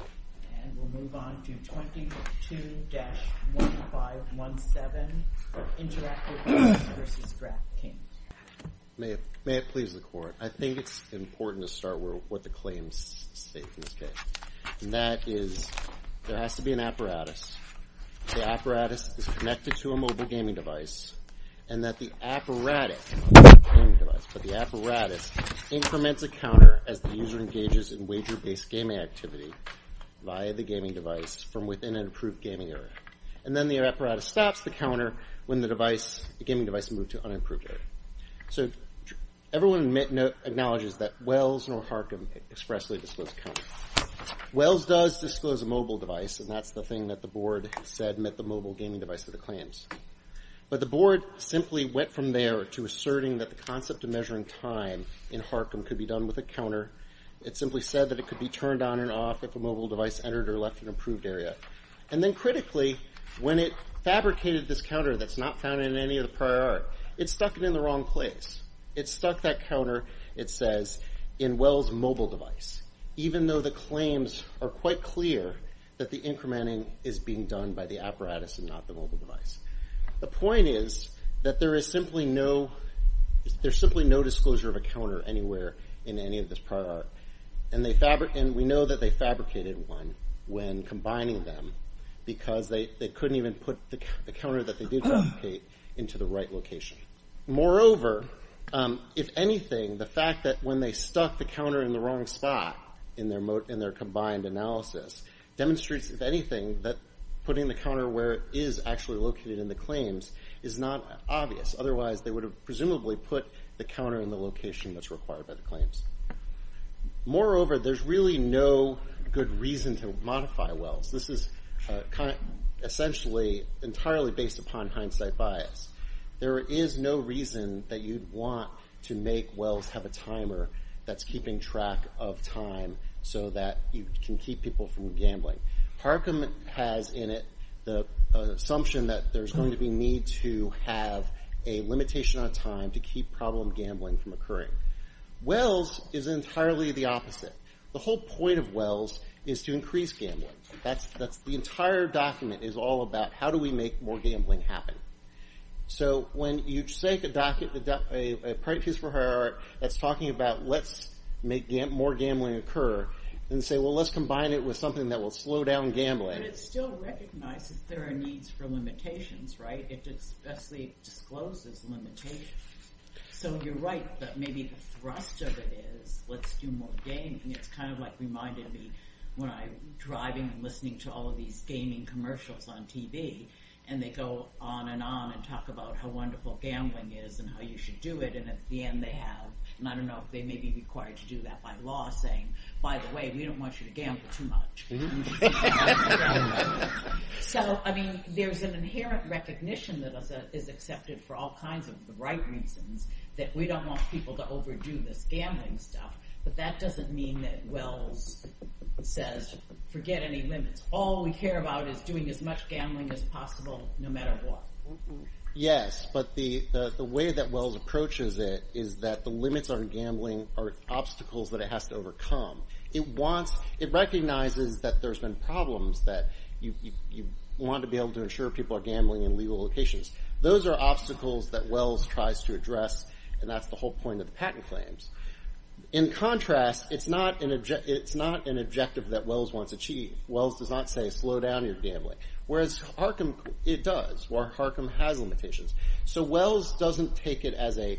And we'll move on to 22-1517, Interactive Games v. DraftKings. May it please the Court. I think it's important to start with what the claims state in this case. And that is there has to be an apparatus. The apparatus is connected to a mobile gaming device and that the apparatus, not the gaming device, but the apparatus increments a counter as the user engages in wager-based gaming activity via the gaming device from within an approved gaming area. And then the apparatus stops the counter when the gaming device moved to an unapproved area. So everyone acknowledges that Wells nor Harcum expressly disclosed a counter. Wells does disclose a mobile device, and that's the thing that the Board said met the mobile gaming device for the claims. But the Board simply went from there to asserting that the concept of measuring time in Harcum could be done with a counter. It simply said that it could be turned on and off if a mobile device entered or left an approved area. And then critically, when it fabricated this counter that's not found in any of the prior art, it stuck it in the wrong place. It stuck that counter, it says, in Wells' mobile device, even though the claims are quite clear that the incrementing is being done by the apparatus and not the mobile device. The point is that there is simply no disclosure of a counter anywhere in any of this prior art. And we know that they fabricated one when combining them because they couldn't even put the counter that they did fabricate into the right location. Moreover, if anything, the fact that when they stuck the counter in the wrong spot in their combined analysis demonstrates, if anything, that putting the counter where it is actually located in the claims is not obvious. Otherwise, they would have presumably put the counter in the location that's required by the claims. Moreover, there's really no good reason to modify Wells. This is essentially entirely based upon hindsight bias. There is no reason that you'd want to make Wells have a timer that's keeping track of time so that you can keep people from gambling. Harcum has in it the assumption that there's going to be need to have a limitation on time to keep problem gambling from occurring. Wells is entirely the opposite. The whole point of Wells is to increase gambling. The entire document is all about how do we make more gambling happen. When you take a piece for Harcum that's talking about let's make more gambling occur and say, well, let's combine it with something that will slow down gambling. But it still recognizes there are needs for limitations, right? It discloses limitations. So you're right that maybe the thrust of it is let's do more gaming. It's kind of like reminding me when I'm driving and listening to all of these gaming commercials on TV and they go on and on and talk about how wonderful gambling is and how you should do it. And at the end they have, and I don't know if they may be required to do that by law, saying, by the way, we don't want you to gamble too much. So, I mean, there's an inherent recognition that is accepted for all kinds of the right reasons that we don't want people to overdo this gambling stuff. But that doesn't mean that Wells says forget any limits. All we care about is doing as much gambling as possible no matter what. Yes, but the way that Wells approaches it is that the limits on gambling are obstacles that it has to overcome. It recognizes that there's been problems that you want to be able to ensure people are gambling in legal locations. Those are obstacles that Wells tries to address, and that's the whole point of the patent claims. In contrast, it's not an objective that Wells wants to achieve. Wells does not say slow down your gambling. Whereas Harcum, it does, where Harcum has limitations. So Wells doesn't take it as a,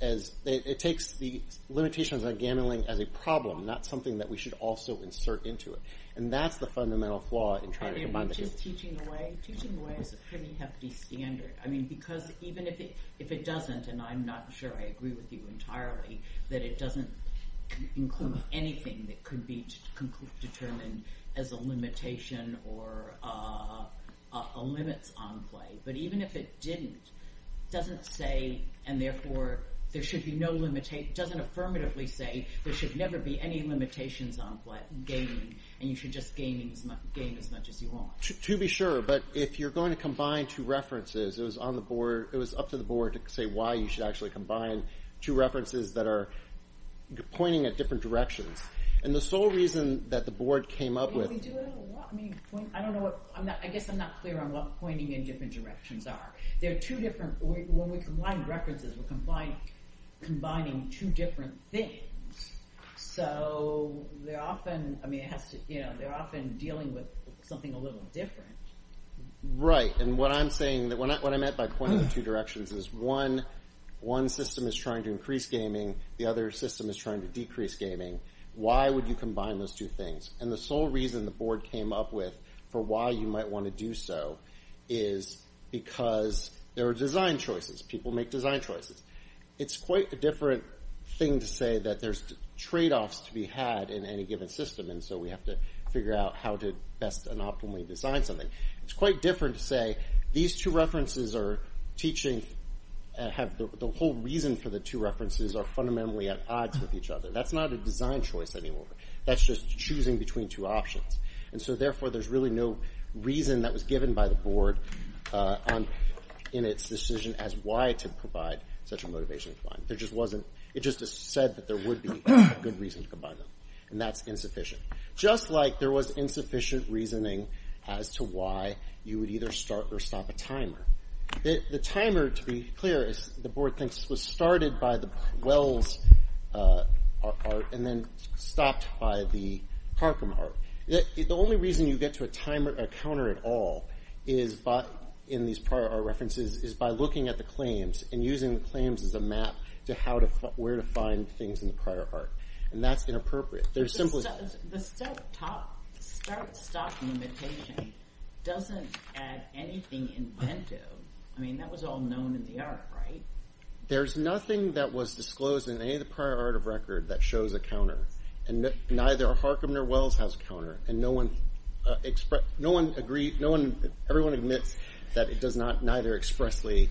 it takes the limitations on gambling as a problem, not something that we should also insert into it. And that's the fundamental flaw in trying to combine the two. Teaching away is a pretty hefty standard. I mean, because even if it doesn't, and I'm not sure I agree with you entirely, that it doesn't include anything that could be determined as a limitation or a limit on play. But even if it didn't, it doesn't say, and therefore there should be no limitations, it doesn't affirmatively say there should never be any limitations on gaming, and you should just game as much as you want. To be sure, but if you're going to combine two references, it was up to the board to say why you should actually combine two references that are pointing at different directions. And the sole reason that the board came up with... I guess I'm not clear on what pointing in different directions are. When we combine references, we're combining two different things. So they're often dealing with something a little different. Right, and what I'm saying, what I meant by pointing in two directions is one system is trying to increase gaming, the other system is trying to decrease gaming. Why would you combine those two things? And the sole reason the board came up with for why you might want to do so is because there are design choices. People make design choices. It's quite a different thing to say that there's trade-offs to be had in any given system, and so we have to figure out how to best and optimally design something. It's quite different to say these two references are teaching... the whole reason for the two references are fundamentally at odds with each other. That's not a design choice anymore. That's just choosing between two options. And so therefore, there's really no reason that was given by the board in its decision as why to provide such a motivation. It just said that there would be a good reason to combine them, and that's insufficient. Just like there was insufficient reasoning as to why you would either start or stop a timer. The timer, to be clear, the board thinks was started by the Wells art and then stopped by the Parkham art. The only reason you get to a timer, a counter at all, in these prior art references is by looking at the claims and using the claims as a map to where to find things in the prior art. And that's inappropriate. There's simply... The start, stop limitation doesn't add anything inventive. I mean, that was all known in the art, right? There's nothing that was disclosed in any of the prior art of record that shows a counter, and neither Parkham nor Wells has a counter, and no one agreed, no one, everyone admits that it does not neither expressly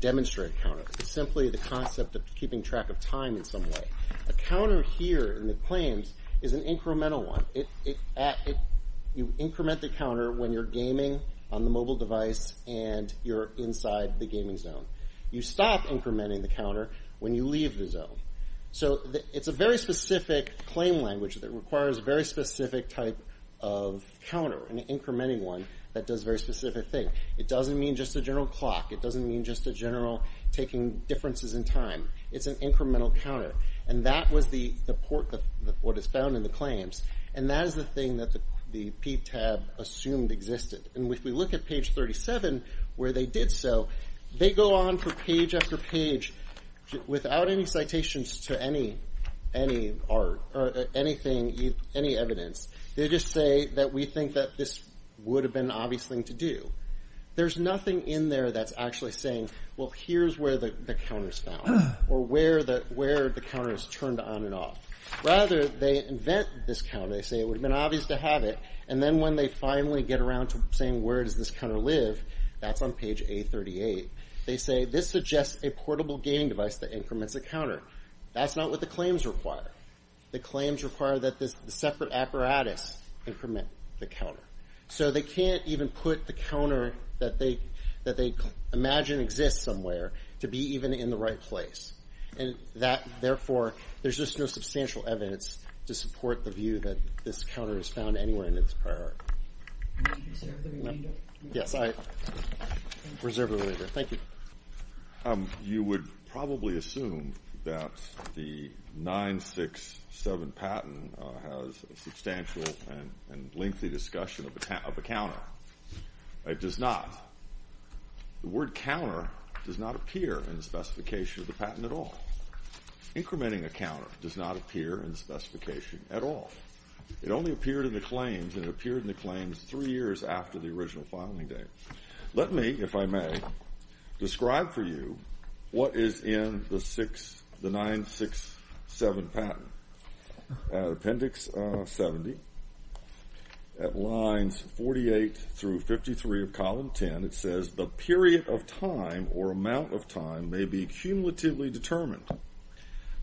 demonstrate a counter. It's simply the concept of keeping track of time in some way. A counter here in the claims is an incremental one. You increment the counter when you're gaming on the mobile device and you're inside the gaming zone. You stop incrementing the counter when you leave the zone. So it's a very specific claim language that requires a very specific type of counter, an incrementing one that does a very specific thing. It doesn't mean just a general clock. It doesn't mean just a general taking differences in time. It's an incremental counter, and that was what is found in the claims, and that is the thing that the PTAB assumed existed. And if we look at page 37 where they did so, they go on for page after page without any citations to any art or any evidence. They just say that we think that this would have been an obvious thing to do. There's nothing in there that's actually saying, well, here's where the counter is found or where the counter is turned on and off. Rather, they invent this counter. They say it would have been obvious to have it, and then when they finally get around to saying where does this counter live, that's on page A38, they say this suggests a portable gaming device that increments the counter. That's not what the claims require. The claims require that the separate apparatus increment the counter. So they can't even put the counter that they imagine exists somewhere to be even in the right place. Therefore, there's just no substantial evidence to support the view that this counter is found anywhere in this prior art. Can you reserve the remainder? Yes, I reserve the remainder. Thank you. You would probably assume that the 967 patent has a substantial and lengthy discussion of a counter. It does not. The word counter does not appear in the specification of the patent at all. Incrementing a counter does not appear in the specification at all. It only appeared in the claims, and it appeared in the claims three years after the original filing date. Let me, if I may, describe for you what is in the 967 patent. Appendix 70. At lines 48 through 53 of column 10, it says, the period of time or amount of time may be cumulatively determined.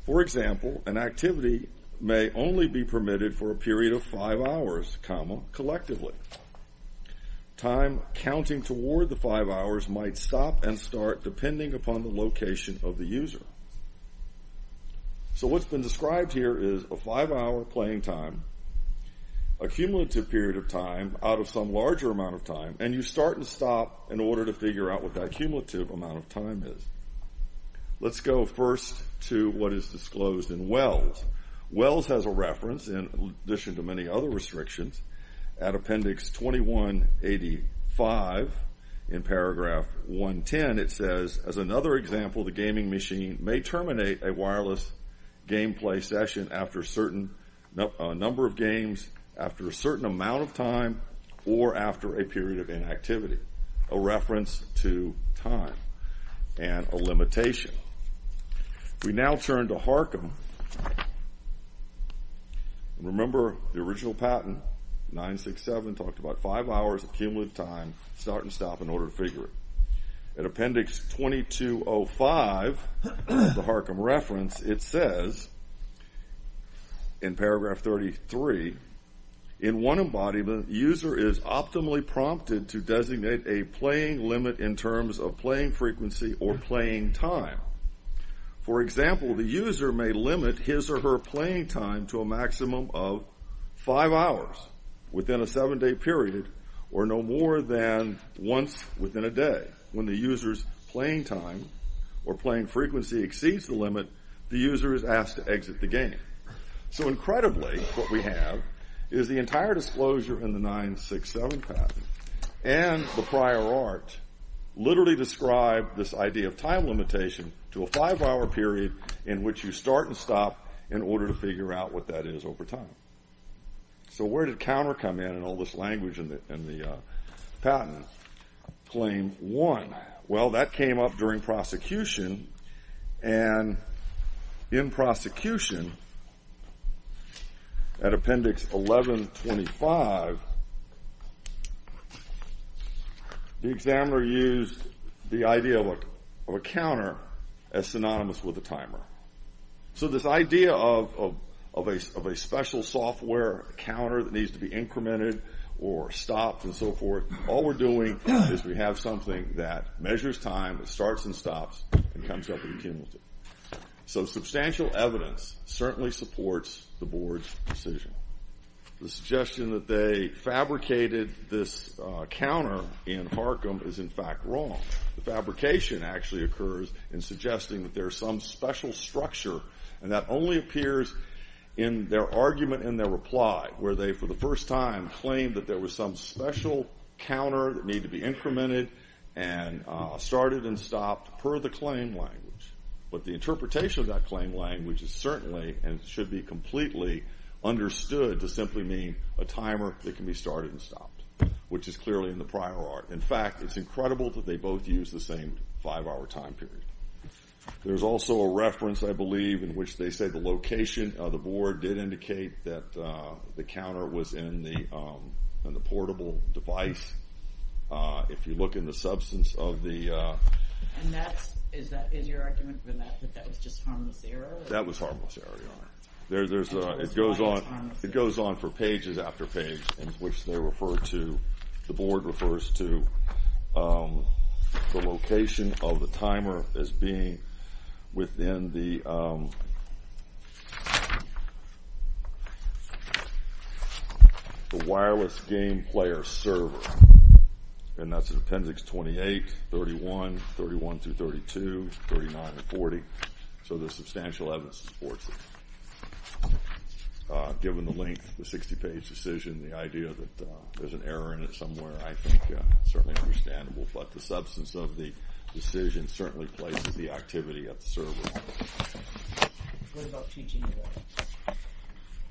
For example, an activity may only be permitted for a period of five hours, collectively. Time counting toward the five hours might stop and start depending upon the location of the user. So what's been described here is a five-hour playing time, a cumulative period of time out of some larger amount of time, and you start and stop in order to figure out what that cumulative amount of time is. Let's go first to what is disclosed in Wells. Wells has a reference, in addition to many other restrictions, at appendix 2185 in paragraph 110. It says, as another example, the gaming machine may terminate a wireless gameplay session after a certain number of games, after a certain amount of time, or after a period of inactivity. A reference to time and a limitation. We now turn to Harcum. Remember the original patent, 967, talked about five hours of cumulative time, start and stop in order to figure it. At appendix 2205, the Harcum reference, it says, in paragraph 33, in one embodiment, user is optimally prompted to designate a playing limit in terms of playing frequency or playing time. For example, the user may limit his or her playing time to a maximum of five hours within a seven-day period or no more than once within a day. When the user's playing time or playing frequency exceeds the limit, the user is asked to exit the game. Incredibly, what we have is the entire disclosure in the 967 patent and the prior art literally describe this idea of time limitation to a five-hour period in which you start and stop in order to figure out what that is over time. So where did counter come in in all this language in the patent? Claim one. Well, that came up during prosecution. And in prosecution, at appendix 1125, the examiner used the idea of a counter as synonymous with a timer. So this idea of a special software counter that needs to be incremented or stopped and so forth, all we're doing is we have something that measures time, that starts and stops, and comes up with a cumulative. So substantial evidence certainly supports the board's decision. The suggestion that they fabricated this counter in Harcum is in fact wrong. The fabrication actually occurs in suggesting that there is some special structure, and that only appears in their argument and their reply, where they, for the first time, claim that there was some special counter that needed to be incremented and started and stopped per the claim language. But the interpretation of that claim language is certainly and should be completely understood to simply mean a timer that can be started and stopped, which is clearly in the prior art. In fact, it's incredible that they both use the same five-hour time period. There's also a reference, I believe, in which they say the location of the board did indicate that the counter was in the portable device. If you look in the substance of the – And is your argument that that was just harmless error? That was harmless error, Your Honor. It goes on for pages after page, in which they refer to – the board refers to the location of the timer as being within the wireless game player server. And that's in appendix 28, 31, 31-32, 39-40. So there's substantial evidence to support this. Given the length of the 60-page decision, the idea that there's an error in it somewhere, I think it's certainly understandable. But the substance of the decision certainly places the activity at the server. What about teaching away?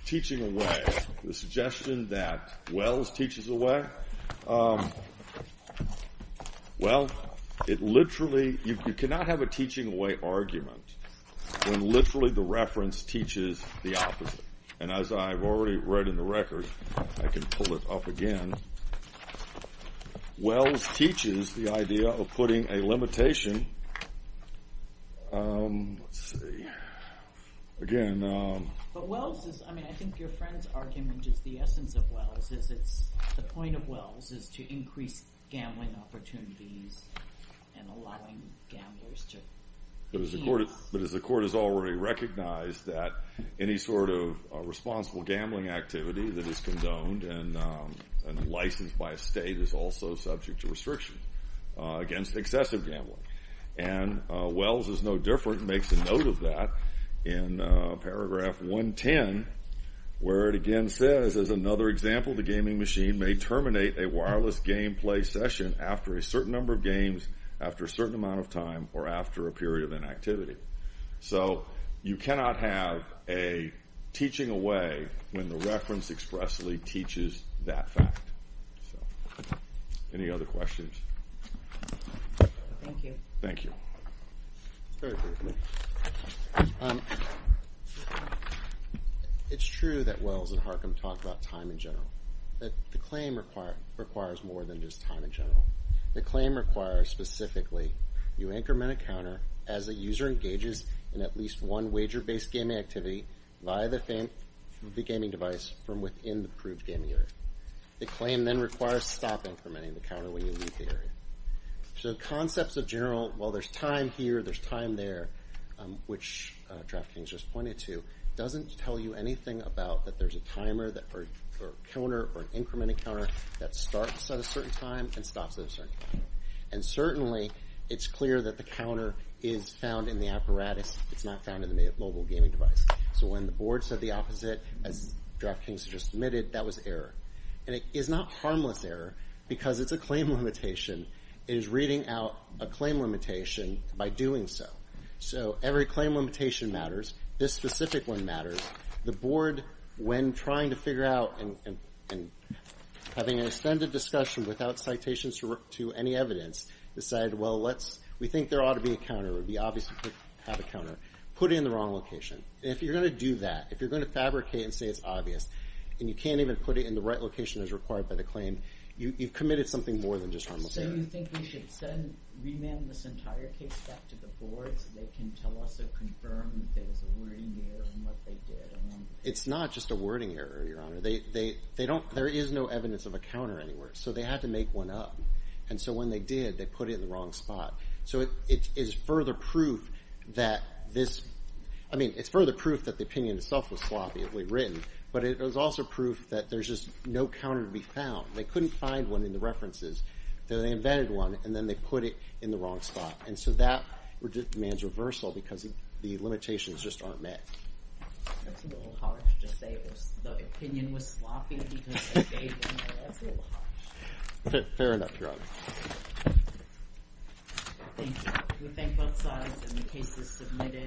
Teaching away. The suggestion that Wells teaches away. Well, it literally – you cannot have a teaching away argument when literally the reference teaches the opposite. And as I've already read in the record, I can pull it up again. Wells teaches the idea of putting a limitation. Let's see. Again. But Wells is – I mean, I think your friend's argument is the essence of Wells is it's – the point of Wells is to increase gambling opportunities and allowing gamblers to – But as the court has already recognized that any sort of responsible gambling activity that is condoned and licensed by a state is also subject to restriction against excessive gambling. And Wells is no different and makes a note of that in paragraph 110 where it again says, as another example, the gaming machine may terminate a wireless gameplay session after a certain number of games, after a certain amount of time, or after a period of inactivity. So you cannot have a teaching away when the reference expressly teaches that fact. Any other questions? Thank you. Thank you. Very briefly. It's true that Wells and Harcum talk about time in general, but the claim requires more than just time in general. The claim requires specifically you increment a counter as a user engages in at least one wager-based gaming activity via the gaming device from within the approved gaming area. The claim then requires stop incrementing the counter when you leave the area. So the concepts of general, well, there's time here, there's time there, which DraftKings just pointed to, doesn't tell you anything about that there's a timer or a counter or an incrementing counter that starts at a certain time and stops at a certain time. And certainly it's clear that the counter is found in the apparatus. It's not found in the mobile gaming device. So when the board said the opposite, as DraftKings just admitted, that was error. And it is not harmless error because it's a claim limitation. It is reading out a claim limitation by doing so. So every claim limitation matters. This specific one matters. The board, when trying to figure out and having an extended discussion without citations to any evidence, decided, well, we think there ought to be a counter. It would be obvious to have a counter. Put it in the wrong location. If you're going to do that, if you're going to fabricate and say it's obvious and you can't even put it in the right location as required by the claim, you've committed something more than just harmless error. So you think we should remand this entire case back to the board so they can tell us or confirm that there was a wording error in what they did? It's not just a wording error, Your Honor. There is no evidence of a counter anywhere. So they had to make one up. And so when they did, they put it in the wrong spot. So it's further proof that the opinion itself was sloppily written, but it was also proof that there's just no counter to be found. They couldn't find one in the references, so they invented one, and then they put it in the wrong spot. And so that demands reversal because the limitations just aren't met. That's a little harsh to say the opinion was sloppy because they gave it. That's a little harsh. Fair enough, Your Honor. Thank you. We thank both sides, and the case is submitted.